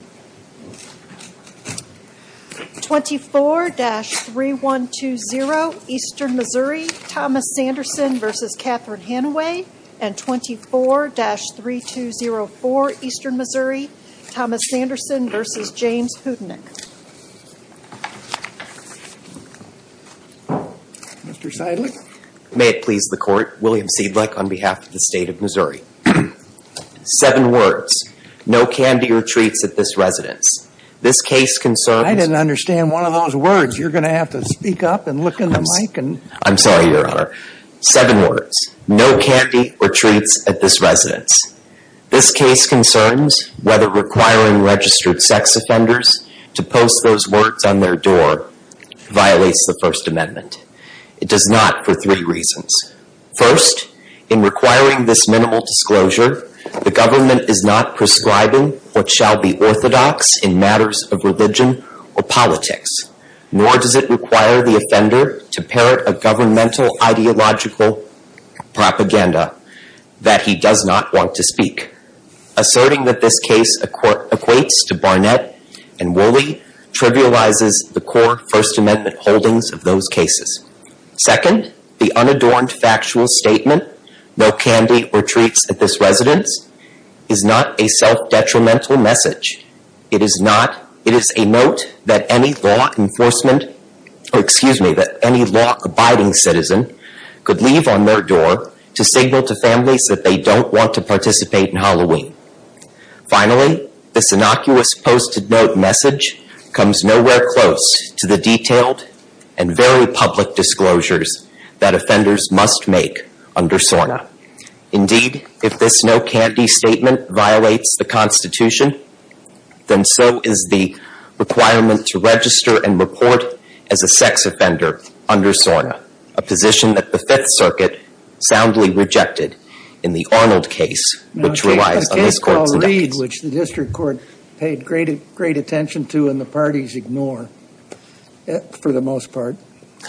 and 24-3204 Eastern Missouri, Thomas Sanderson v. James Houdinick. Mr. Seidlich. May it please the Court, William Seidlich on behalf of the State of Missouri. Seven words. No candy or treats at this residence. This case concerns... I didn't understand one of those words. You're going to have to speak up and look in the mic. I'm sorry, Your Honor. Seven words. No candy or treats at this residence. This case concerns whether requiring registered sex offenders to post those words on their door violates the First Amendment. It does not for three reasons. First, in requiring this minimal disclosure, the government is not prescribing what shall be orthodox in matters of religion or politics. Nor does it require the offender to parrot a governmental ideological propaganda that he does not want to speak. Asserting that this case equates to Barnett and Woolley trivializes the core First Amendment holdings of those cases. Second, the unadorned factual statement, no candy or treats at this residence, is not a self-detrimental message. It is a note that any law-abiding citizen could leave on their door to signal to families that they don't want to participate in Halloween. Finally, this innocuous posted note message comes nowhere close to the detailed and very public disclosures that offenders must make under SORNA. Indeed, if this no candy statement violates the Constitution, then so is the requirement to register and report as a sex offender under SORNA, a position that the Fifth Circuit soundly rejected in the Arnold case, which relies on these courts. The case called Reed, which the district court paid great attention to and the parties ignore, for the most part.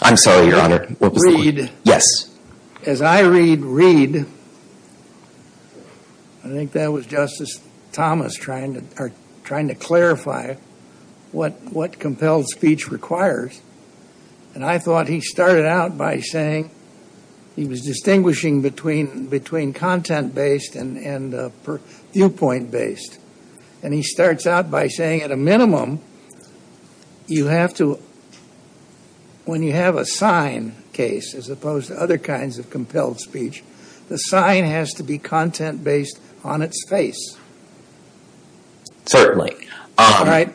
I'm sorry, Your Honor. What was the court? Yes. As I read Reed, I think that was Justice Thomas trying to clarify what compelled speech requires. And I thought he started out by saying he was distinguishing between content-based and viewpoint-based. And he starts out by saying, at a minimum, you have to, when you have a sign case, as opposed to other kinds of compelled speech, the sign has to be content-based on its face. Certainly. Right?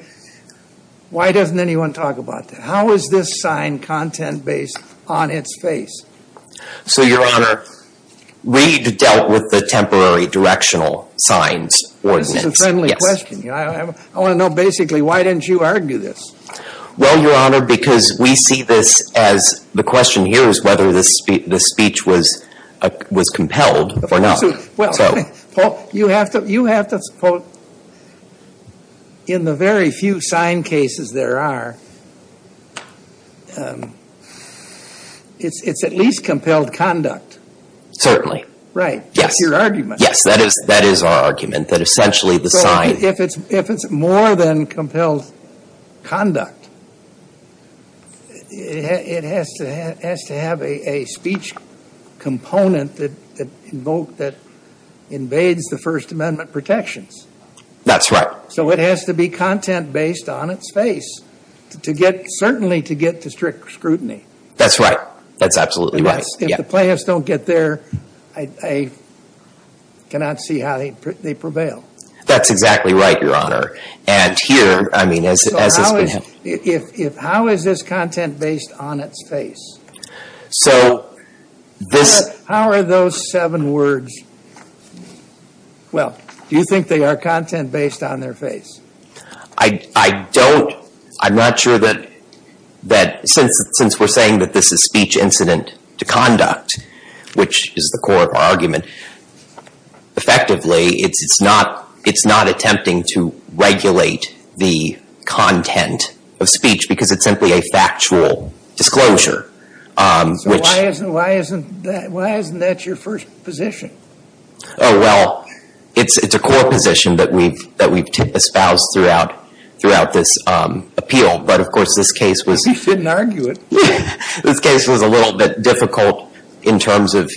Why doesn't anyone talk about that? How is this sign content-based on its face? So, Your Honor, Reed dealt with the temporary directional signs ordinance. This is a friendly question. I want to know, basically, why didn't you argue this? Well, Your Honor, because we see this as, the question here is whether the speech was compelled or not. Well, you have to, in the very few sign cases there are, it's at least compelled conduct. Right. That's your argument. Yes, that is our argument, that essentially the sign. If it's more than compelled conduct, it has to have a speech component that invades the First Amendment protections. That's right. So it has to be content-based on its face, certainly to get to strict scrutiny. That's right. That's absolutely right. If the plaintiffs don't get there, I cannot see how they prevail. That's exactly right, Your Honor. And here, I mean, as has been... So how is this content-based on its face? So this... How are those seven words, well, do you think they are content-based on their face? I don't, I'm not sure that, since we're saying that this is speech incident to conduct, which is the core of our argument, effectively, it's not attempting to regulate the content of speech because it's simply a factual disclosure, which... So why isn't that your first position? Oh, well, it's a core position that we've espoused throughout this appeal, but of course this case was... You shouldn't argue it. This case was a little bit difficult in terms of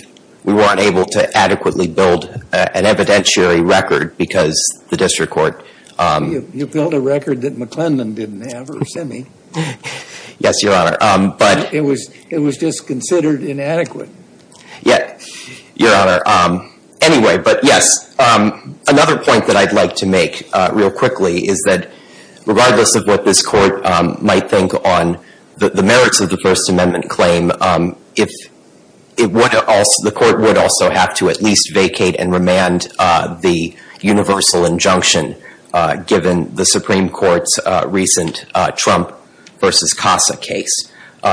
we weren't able to adequately build an evidentiary record because the district court... You built a record that McClendon didn't have, or Simme. Yes, Your Honor, but... It was just considered inadequate. Yes, Your Honor. Anyway, but yes, another point that I'd like to make real quickly is that, the merits of the First Amendment claim, the court would also have to at least vacate and remand the universal injunction, given the Supreme Court's recent Trump versus CASA case.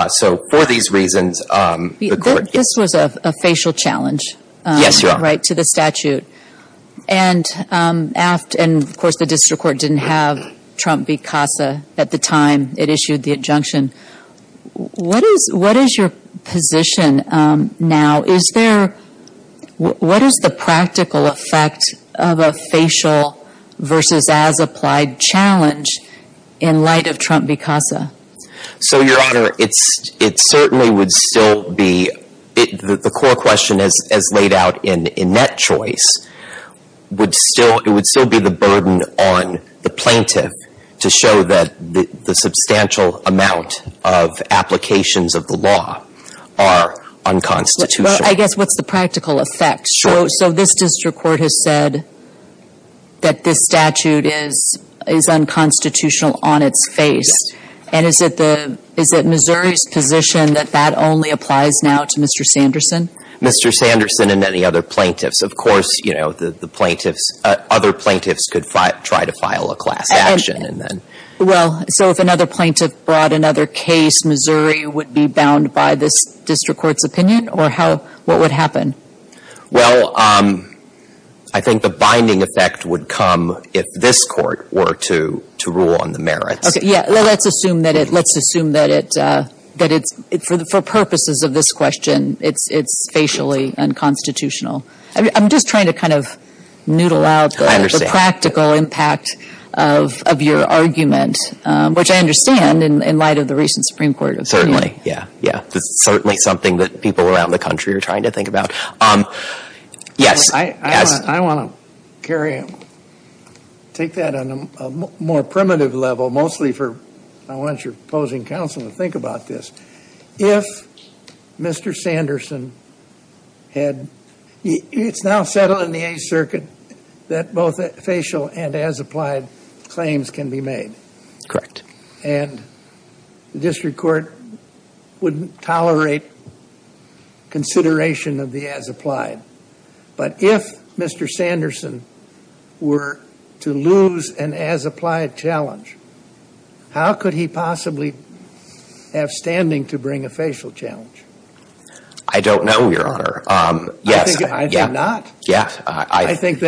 So for these reasons, the court... This was a facial challenge. Yes, Your Honor. Right, to the statute. And, of course, the district court didn't have Trump v. CASA at the time it issued the injunction. What is your position now? What is the practical effect of a facial versus as-applied challenge in light of Trump v. CASA? So, Your Honor, it certainly would still be... The core question, as laid out in that choice, would still be the burden on the plaintiff to show that the substantial amount of applications of the law are unconstitutional. Well, I guess what's the practical effect? Sure. So this district court has said that this statute is unconstitutional on its face. And is it Missouri's position that that only applies now to Mr. Sanderson? Mr. Sanderson and any other plaintiffs. Of course, you know, the plaintiffs... Other plaintiffs could try to file a class action and then... Well, so if another plaintiff brought another case, Missouri would be bound by this district court's opinion? Or how... What would happen? Well, I think the binding effect would come if this court were to rule on the merits. Okay, yeah. Let's assume that it's, for purposes of this question, it's facially unconstitutional. I'm just trying to kind of noodle out the practical impact of your argument, which I understand in light of the recent Supreme Court opinion. Certainly. Yeah, yeah. It's certainly something that people around the country are trying to think about. Yes. I want to carry on. Take that on a more primitive level, mostly for... I want your opposing counsel to think about this. If Mr. Sanderson had... It's now settled in the Eighth Circuit that both facial and as-applied claims can be made. Correct. And the district court wouldn't tolerate consideration of the as-applied. But if Mr. Sanderson were to lose an as-applied challenge, how could he possibly have standing to bring a facial challenge? I don't know, Your Honor. I think not. Yeah. I think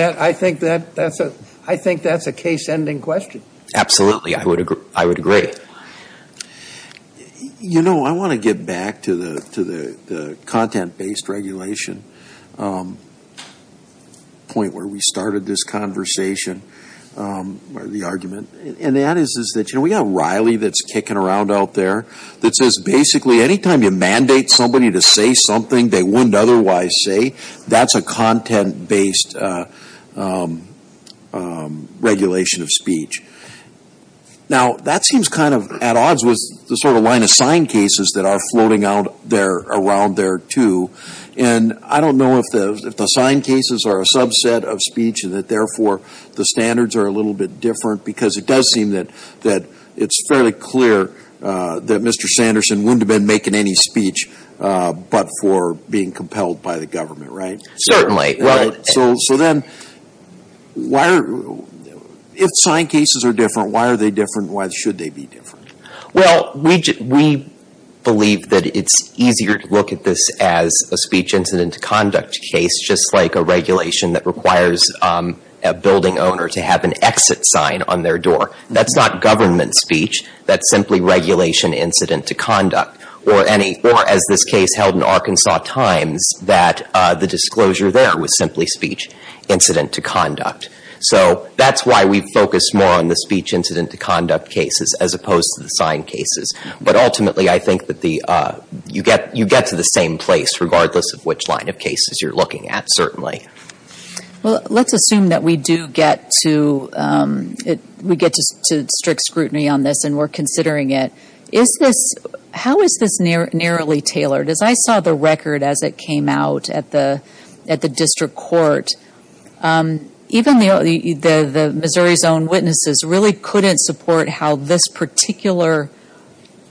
that's a case-ending question. Absolutely. I would agree. You know, I want to get back to the content-based regulation point where we started this conversation, or the argument. And that is that we have Riley that's kicking around out there that says basically anytime you mandate somebody to say something they wouldn't otherwise say, that's a content-based regulation of speech. Now, that seems kind of at odds with the sort of line of signed cases that are floating out there around there, too. And I don't know if the signed cases are a subset of speech and that therefore the standards are a little bit different, because it does seem that it's fairly clear that Mr. Sanderson wouldn't have been making any speech but for being compelled by the government, right? Certainly. So then, if signed cases are different, why are they different? Why should they be different? Well, we believe that it's easier to look at this as a speech incident to conduct case, just like a regulation that requires a building owner to have an exit sign on their door. That's not government speech. That's simply regulation incident to conduct. Or as this case held in Arkansas Times, that the disclosure there was simply speech incident to conduct. So that's why we focus more on the speech incident to conduct cases as opposed to the signed cases. But ultimately, I think that you get to the same place regardless of which line of cases you're looking at, certainly. Well, let's assume that we do get to strict scrutiny on this and we're considering it. How is this narrowly tailored? As I saw the record as it came out at the district court, even the Missouri's own witnesses really couldn't support how this particular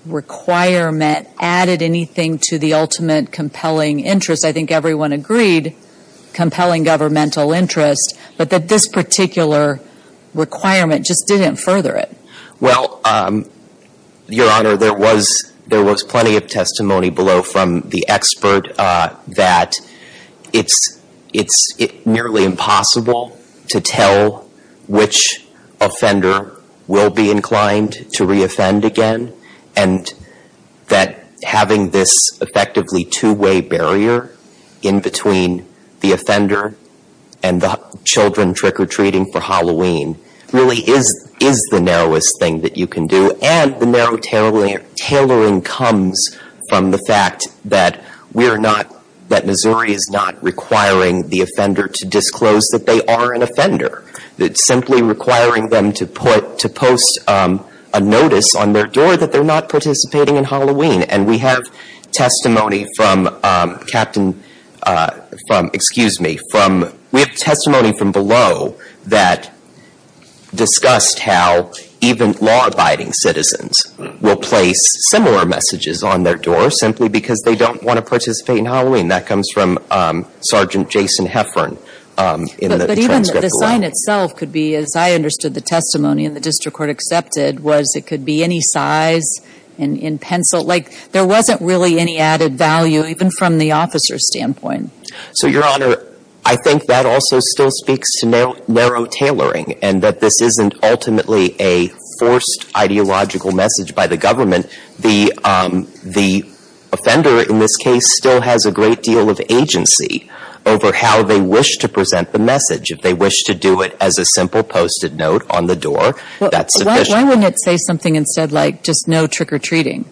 requirement added anything to the ultimate compelling interest. I think everyone agreed compelling governmental interest, but that this particular requirement just didn't further it. Well, Your Honor, there was plenty of testimony below from the expert that it's nearly impossible to tell which offender will be inclined to re-offend again. And that having this effectively two-way barrier in between the offender and the children trick-or-treating for Halloween really is the narrowest thing that you can do. And the narrow tailoring comes from the fact that we are not, that Missouri is not requiring the offender to disclose that they are an offender. It's simply requiring them to post a notice on their door that they're not participating in Halloween. And we have testimony from below that discussed how even law-abiding citizens will place similar messages on their door simply because they don't want to participate in Halloween. That comes from Sergeant Jason Heffern in the transcript below. But even the sign itself could be, as I understood the testimony in the district court accepted, was it could be any size in pencil. Like, there wasn't really any added value even from the officer's standpoint. So, Your Honor, I think that also still speaks to narrow tailoring and that this isn't ultimately a forced ideological message by the government. The offender in this case still has a great deal of agency over how they wish to present the message. If they wish to do it as a simple posted note on the door, that's sufficient. Why wouldn't it say something instead like, just no trick-or-treating?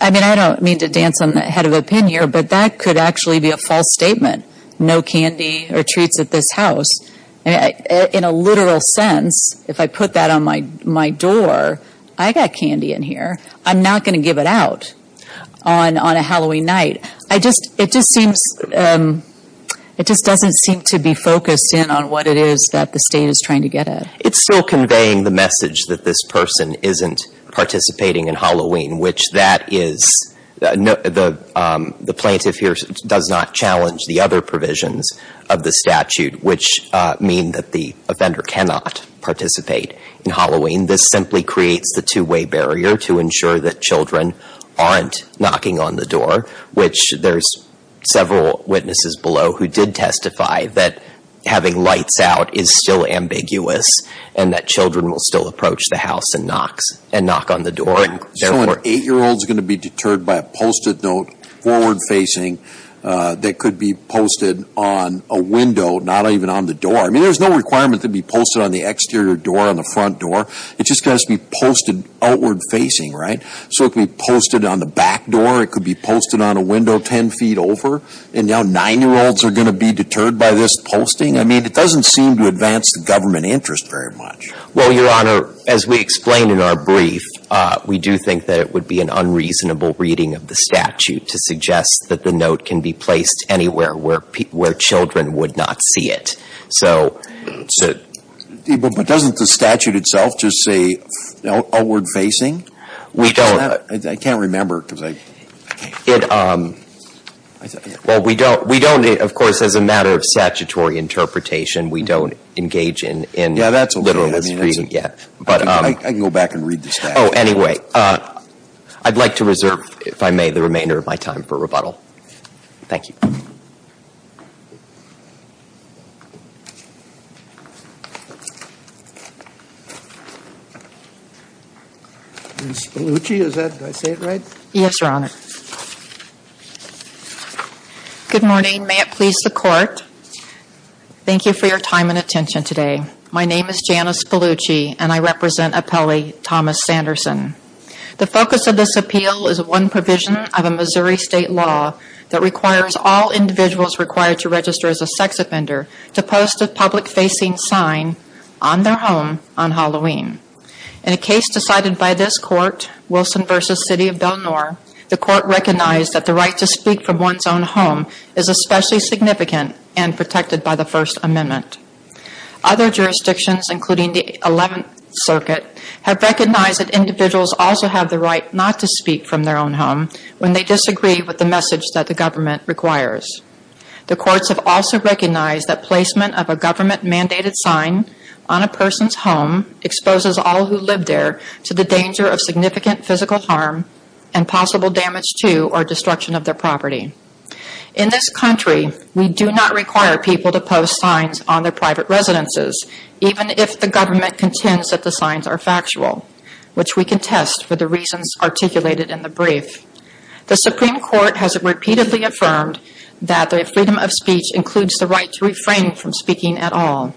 I mean, I don't mean to dance on the head of a pin here, but that could actually be a false statement. No candy or treats at this house. In a literal sense, if I put that on my door, I got candy in here. I'm not going to give it out on a Halloween night. It just doesn't seem to be focused in on what it is that the state is trying to get at. It's still conveying the message that this person isn't participating in Halloween, which the plaintiff here does not challenge the other provisions of the statute, which mean that the offender cannot participate in Halloween. This simply creates the two-way barrier to ensure that children aren't knocking on the door, which there's several witnesses below who did testify that having lights out is still ambiguous and that children will still approach the house and knock on the door. So an eight-year-old is going to be deterred by a posted note, forward-facing, that could be posted on a window, not even on the door. I mean, there's no requirement to be posted on the exterior door, on the front door. It just has to be posted outward-facing, right? So it could be posted on the back door, it could be posted on a window 10 feet over, and now nine-year-olds are going to be deterred by this posting? I mean, it doesn't seem to advance the government interest very much. Well, Your Honor, as we explain in our brief, we do think that it would be an unreasonable reading of the statute to suggest that the note can be placed anywhere where children would not see it. But doesn't the statute itself just say outward-facing? We don't. I can't remember because I can't remember. Well, we don't. We don't, of course, as a matter of statutory interpretation, we don't engage in literalism yet. I can go back and read the statute. Oh, anyway, I'd like to reserve, if I may, the remainder of my time for rebuttal. Thank you. Ms. Spallucci, is that, did I say it right? Yes, Your Honor. Good morning. May it please the Court, thank you for your time and attention today. My name is Janice Spallucci, and I represent appellee Thomas Sanderson. The focus of this appeal is one provision of a Missouri State law that requires all individuals required to register as a sex offender to post a public-facing sign on their home on Halloween. In a case decided by this Court, Wilson v. City of Del Nor, the Court recognized that the right to speak from one's own home is especially significant and protected by the First Amendment. Other jurisdictions, including the Eleventh Circuit, have recognized that individuals also have the right not to speak from their own home when they disagree with the message that the government requires. The courts have also recognized that placement of a government-mandated sign on a person's home exposes all who live there to the danger of significant physical harm and possible damage to or destruction of their property. In this country, we do not require people to post signs on their private residences, even if the government contends that the signs are factual, which we contest for the reasons articulated in the brief. The Supreme Court has repeatedly affirmed that the freedom of speech includes the right to refrain from speaking at all.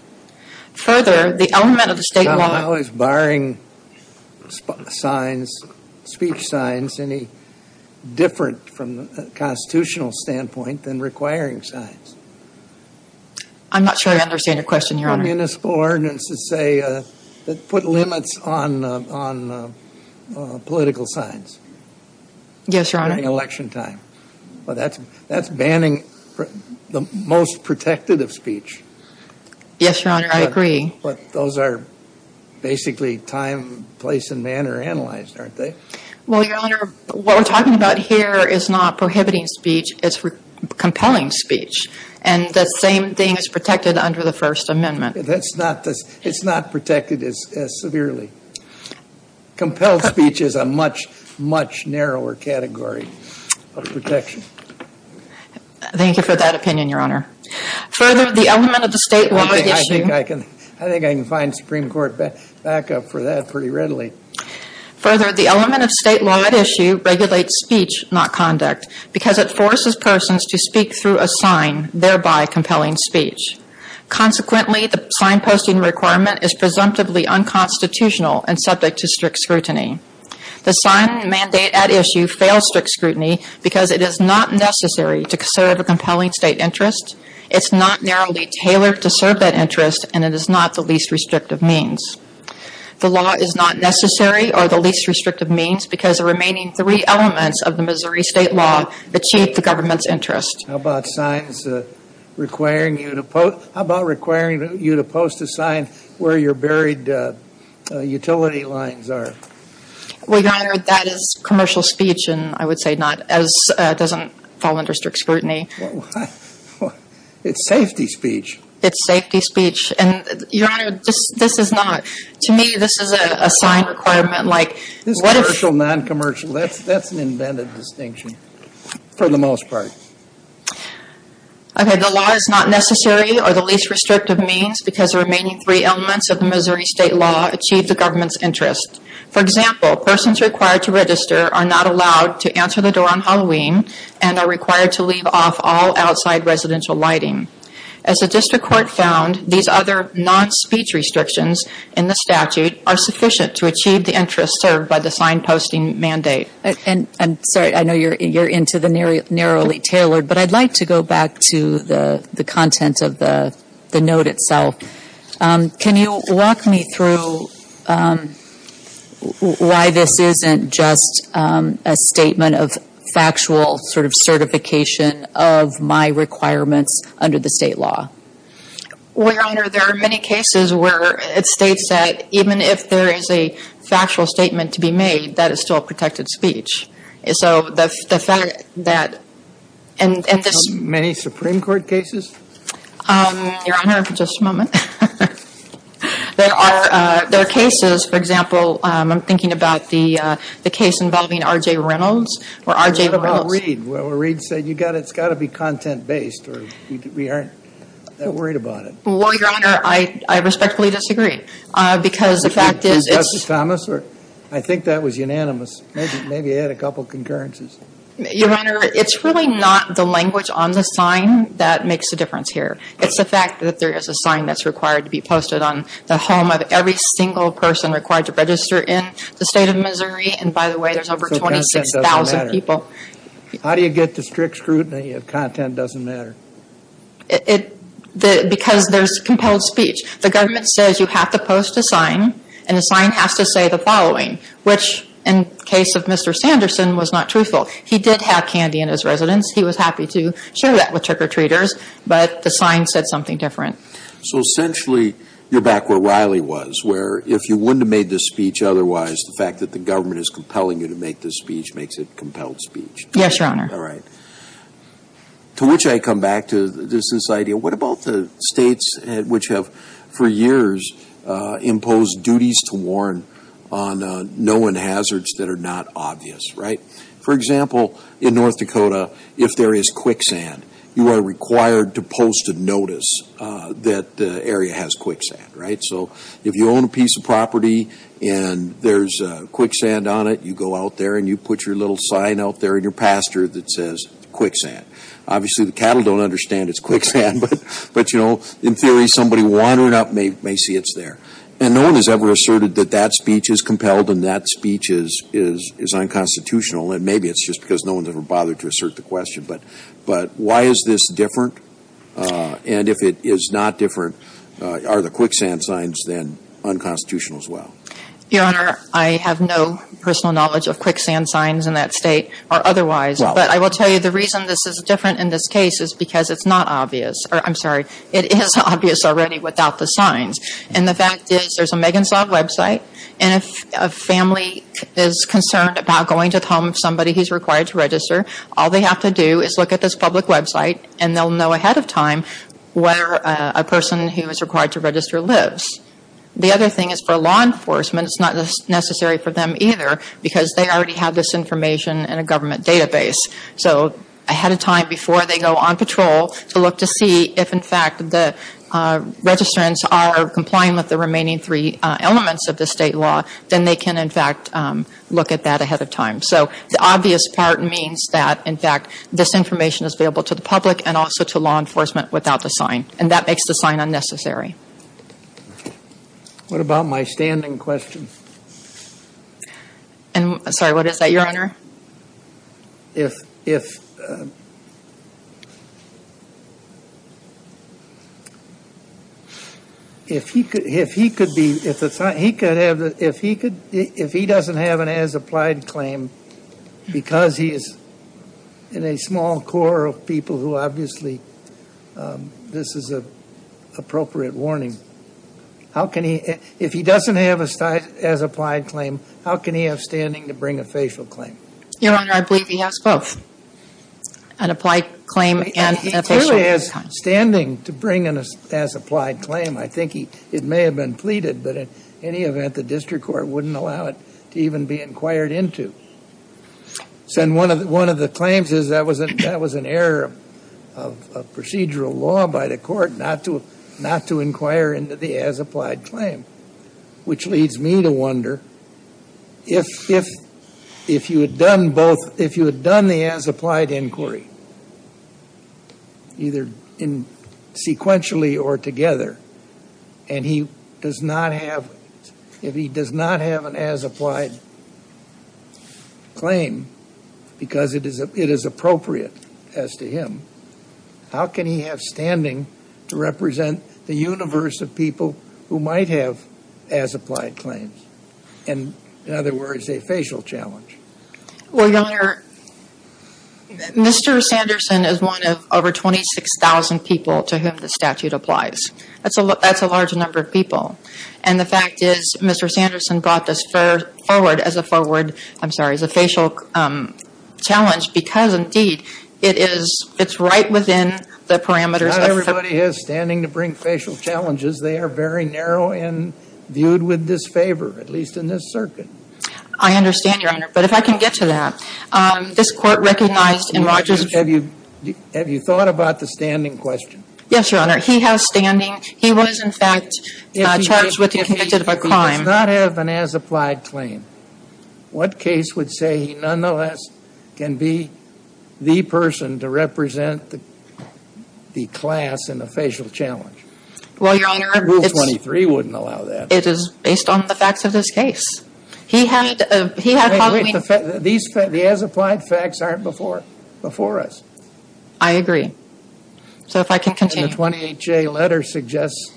Further, the element of the State law... Is barring signs, speech signs, any different from the constitutional standpoint than requiring signs? I'm not sure I understand your question, Your Honor. Municipal ordinances, say, that put limits on political signs. Yes, Your Honor. During election time. That's banning the most protective of speech. Yes, Your Honor, I agree. But those are basically time, place, and manner analyzed, aren't they? Well, Your Honor, what we're talking about here is not prohibiting speech. It's compelling speech. And the same thing is protected under the First Amendment. It's not protected as severely. Compelled speech is a much, much narrower category of protection. Thank you for that opinion, Your Honor. Further, the element of the State law... I think I can find Supreme Court backup for that pretty readily. Further, the element of State law at issue regulates speech, not conduct, because it forces persons to speak through a sign, thereby compelling speech. Consequently, the sign-posting requirement is presumptively unconstitutional and subject to strict scrutiny. The sign mandate at issue fails strict scrutiny because it is not necessary to serve a compelling State interest, it's not narrowly tailored to serve that interest, and it is not the least restrictive means. The law is not necessary or the least restrictive means because the remaining three elements of the Missouri State law achieve the government's interest. How about signs requiring you to post a sign where your buried utility lines are? Well, Your Honor, that is commercial speech, and I would say it doesn't fall under strict scrutiny. It's safety speech. It's safety speech. And, Your Honor, to me, this is a sign requirement. This is commercial, non-commercial. That's an invented distinction for the most part. Okay, the law is not necessary or the least restrictive means because the remaining three elements of the Missouri State law achieve the government's interest. For example, persons required to register are not allowed to answer the door on Halloween and are required to leave off all outside residential lighting. As the District Court found, these other non-speech restrictions in the statute are sufficient to achieve the interest served by the sign-posting mandate. I'm sorry. I know you're into the narrowly tailored, but I'd like to go back to the content of the note itself. Can you walk me through why this isn't just a statement of factual sort of certification of my requirements under the state law? Well, Your Honor, there are many cases where it states that even if there is a factual statement to be made, that is still protected speech. So the fact that and this — Many Supreme Court cases? Your Honor, just a moment. There are cases, for example, I'm thinking about the case involving R.J. Reynolds or R.J. Reynolds. Or Reed, where Reed said it's got to be content-based or we aren't that worried about it. Well, Your Honor, I respectfully disagree because the fact is — Justice Thomas? I think that was unanimous. Maybe add a couple concurrences. Your Honor, it's really not the language on the sign that makes a difference here. It's the fact that there is a sign that's required to be posted on the home of every single person required to register in the State of Missouri. And by the way, there's over 26,000 people. How do you get to strict scrutiny if content doesn't matter? Because there's compelled speech. The government says you have to post a sign, and the sign has to say the following, which in the case of Mr. Sanderson was not truthful. He did have candy in his residence. He was happy to share that with trick-or-treaters, but the sign said something different. So essentially, you're back where Riley was, where if you wouldn't have made this speech otherwise, the fact that the government is compelling you to make this speech makes it compelled speech. Yes, Your Honor. All right. To which I come back to this idea, what about the states which have for years imposed duties to warn on known hazards that are not obvious, right? For example, in North Dakota, if there is quicksand, you are required to post a notice that the area has quicksand, right? So if you own a piece of property and there's quicksand on it, you go out there and you put your little sign out there in your pasture that says quicksand. Obviously, the cattle don't understand it's quicksand, but, you know, in theory, somebody wandering up may see it's there. And no one has ever asserted that that speech is compelled and that speech is unconstitutional, and maybe it's just because no one's ever bothered to assert the question. But why is this different? And if it is not different, are the quicksand signs then unconstitutional as well? Your Honor, I have no personal knowledge of quicksand signs in that state or otherwise. Well. But I will tell you the reason this is different in this case is because it's not obvious. I'm sorry. It is obvious already without the signs. And the fact is there's a Megan Saab website, and if a family is concerned about going to the home of somebody who's required to register, all they have to do is look at this public website, and they'll know ahead of time where a person who is required to register lives. The other thing is for law enforcement, it's not necessary for them either because they already have this information in a government database. So ahead of time before they go on patrol to look to see if, in fact, the registrants are complying with the remaining three elements of the state law, then they can, in fact, look at that ahead of time. So the obvious part means that, in fact, this information is available to the public and also to law enforcement without the sign. And that makes the sign unnecessary. What about my standing question? Sorry, what is that, Your Honor? If he doesn't have an as-applied claim, because he is in a small core of people who obviously this is an appropriate warning, if he doesn't have an as-applied claim, how can he have standing to bring a facial claim? Your Honor, I believe he has both, an applied claim and a facial claim. He clearly has standing to bring an as-applied claim. I think it may have been pleaded, but in any event, the district court wouldn't allow it to even be inquired into. And one of the claims is that was an error of procedural law by the court not to inquire into the as-applied claim, which leads me to wonder if you had done the as-applied inquiry, either sequentially or together, and if he does not have an as-applied claim because it is appropriate as to him, how can he have standing to represent the universe of people who might have as-applied claims? In other words, a facial challenge. Well, Your Honor, Mr. Sanderson is one of over 26,000 people to whom the statute applies. That's a large number of people. And the fact is Mr. Sanderson brought this forward as a forward, I'm sorry, as a facial challenge because, indeed, it is right within the parameters. Not everybody has standing to bring facial challenges. They are very narrow and viewed with disfavor, at least in this circuit. I understand, Your Honor, but if I can get to that. This Court recognized in Rogers' Have you thought about the standing question? Yes, Your Honor. He has standing. He was, in fact, charged with and convicted of a crime. If he does not have an as-applied claim, what case would say he nonetheless can be the person to represent the class in a facial challenge? Well, Your Honor, it's Rule 23 wouldn't allow that. It is based on the facts of this case. He had probably Wait, wait. The as-applied facts aren't before us. I agree. So if I can continue. The 28-J letter suggests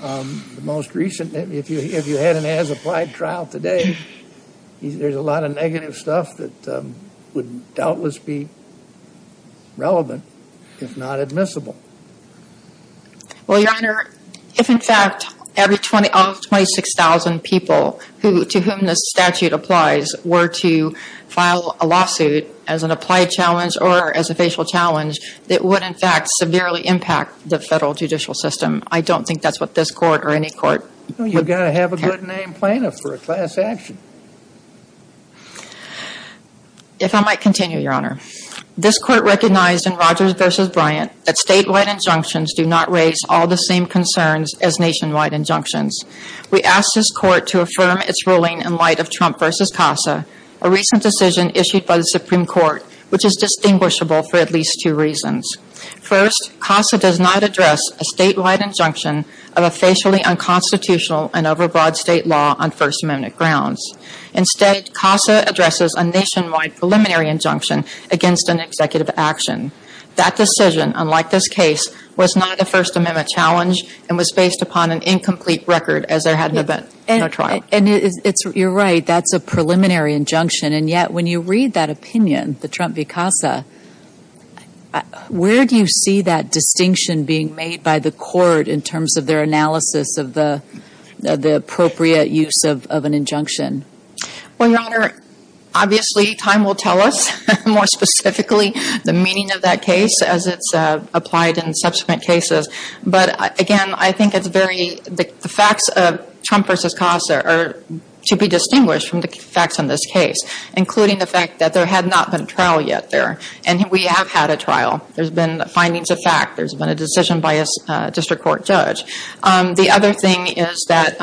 the most recent, if you had an as-applied trial today, there's a lot of negative stuff that would doubtless be relevant, if not admissible. Well, Your Honor, if, in fact, every 26,000 people to whom this statute applies were to file a lawsuit as an applied challenge or as a facial challenge, it would, in fact, severely impact the federal judicial system. I don't think that's what this Court or any court would You've got to have a good-named plaintiff for a class action. If I might continue, Your Honor. This Court recognized in Rogers v. Bryant that statewide injunctions do not raise all the same concerns as nationwide injunctions. We ask this Court to affirm its ruling in light of Trump v. CASA, a recent decision issued by the Supreme Court, which is distinguishable for at least two reasons. First, CASA does not address a statewide injunction of a facially unconstitutional and overbroad state law on First Amendment grounds. Instead, CASA addresses a nationwide preliminary injunction against an executive action. That decision, unlike this case, was not a First Amendment challenge and was based upon an incomplete record as there had been no trial. You're right. That's a preliminary injunction. And yet, when you read that opinion, the Trump v. CASA, where do you see that distinction being made by the Court in terms of their analysis of the appropriate use of an injunction? Well, Your Honor, obviously, time will tell us more specifically the meaning of that case as it's applied in subsequent cases. But again, I think it's very – the facts of Trump v. CASA are to be distinguished from the facts in this case, including the fact that there had not been a trial yet there. And we have had a trial. There's been findings of fact. There's been a decision by a district court judge. The other thing is that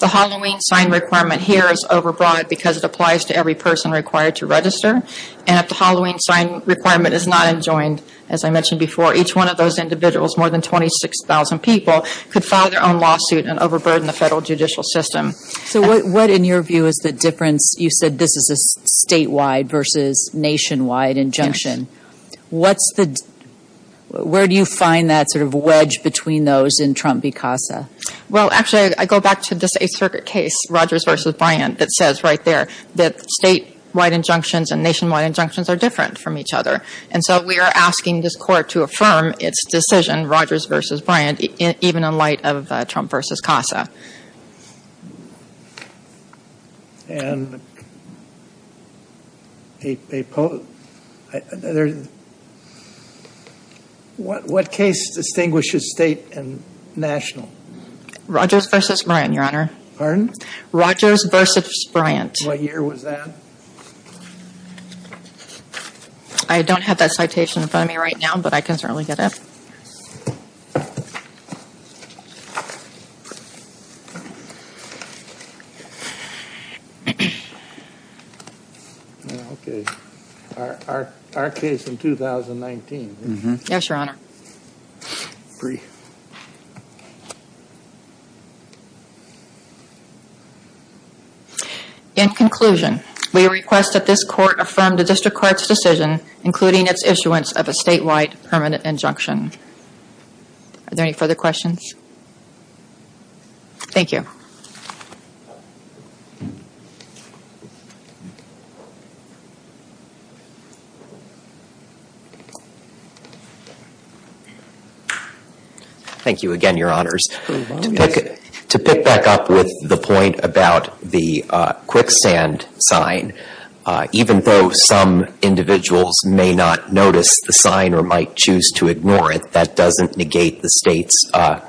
the Halloween sign requirement here is overbroad because it applies to every person required to register. And if the Halloween sign requirement is not enjoined, as I mentioned before, each one of those individuals, more than 26,000 people, could file their own lawsuit and overburden the federal judicial system. So what, in your view, is the difference? You said this is a statewide versus nationwide injunction. Yes. What's the – where do you find that sort of wedge between those in Trump v. CASA? Well, actually, I go back to this Eighth Circuit case, Rogers v. Bryant, that says right there that statewide injunctions and nationwide injunctions are different from each other. And so we are asking this Court to affirm its decision, Rogers v. Bryant, even in light of Trump v. CASA. And a – what case distinguishes state and national? Rogers v. Bryant, Your Honor. Pardon? Rogers v. Bryant. What year was that? I don't have that citation in front of me right now, but I can certainly get it. Okay. Our case in 2019. Yes, Your Honor. Three. In conclusion, we request that this Court affirm the District Court's decision, including its issuance of a statewide permanent injunction. Are there any further questions? Thank you. Thank you again, Your Honors. To pick back up with the point about the quicksand sign, even though some individuals may not notice the sign or might choose to ignore it, that doesn't negate the State's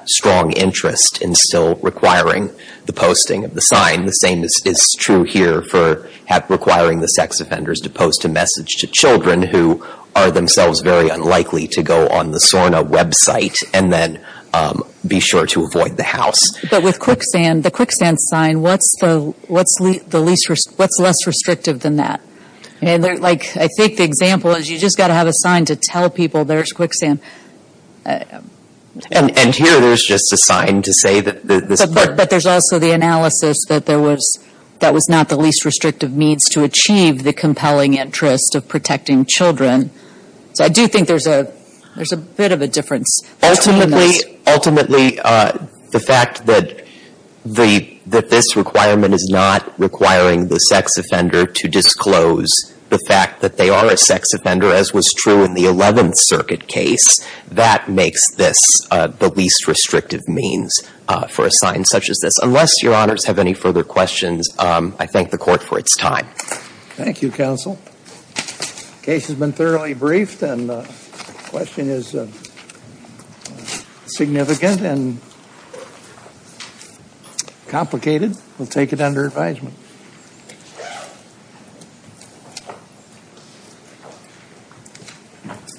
strong interest in still requiring the posting of the sign. The same is true here for requiring the sex offenders to post a message to children who are themselves very unlikely to go on the SORNA website and then be sure to avoid the house. But with quicksand, the quicksand sign, what's the least – what's less restrictive than that? And, like, I think the example is you've just got to have a sign to tell people there's quicksand. And here there's just a sign to say that this – But there's also the analysis that there was – that was not the least restrictive means to achieve the compelling interest of protecting children. So I do think there's a bit of a difference. Ultimately, the fact that this requirement is not requiring the sex offender to disclose the fact that they are a sex offender, as was true in the Eleventh Circuit case, that makes this the least restrictive means for a sign such as this. Unless Your Honors have any further questions, I thank the Court for its time. Thank you, Counsel. The case has been thoroughly briefed and the question is significant and complicated. We'll take it under advisement.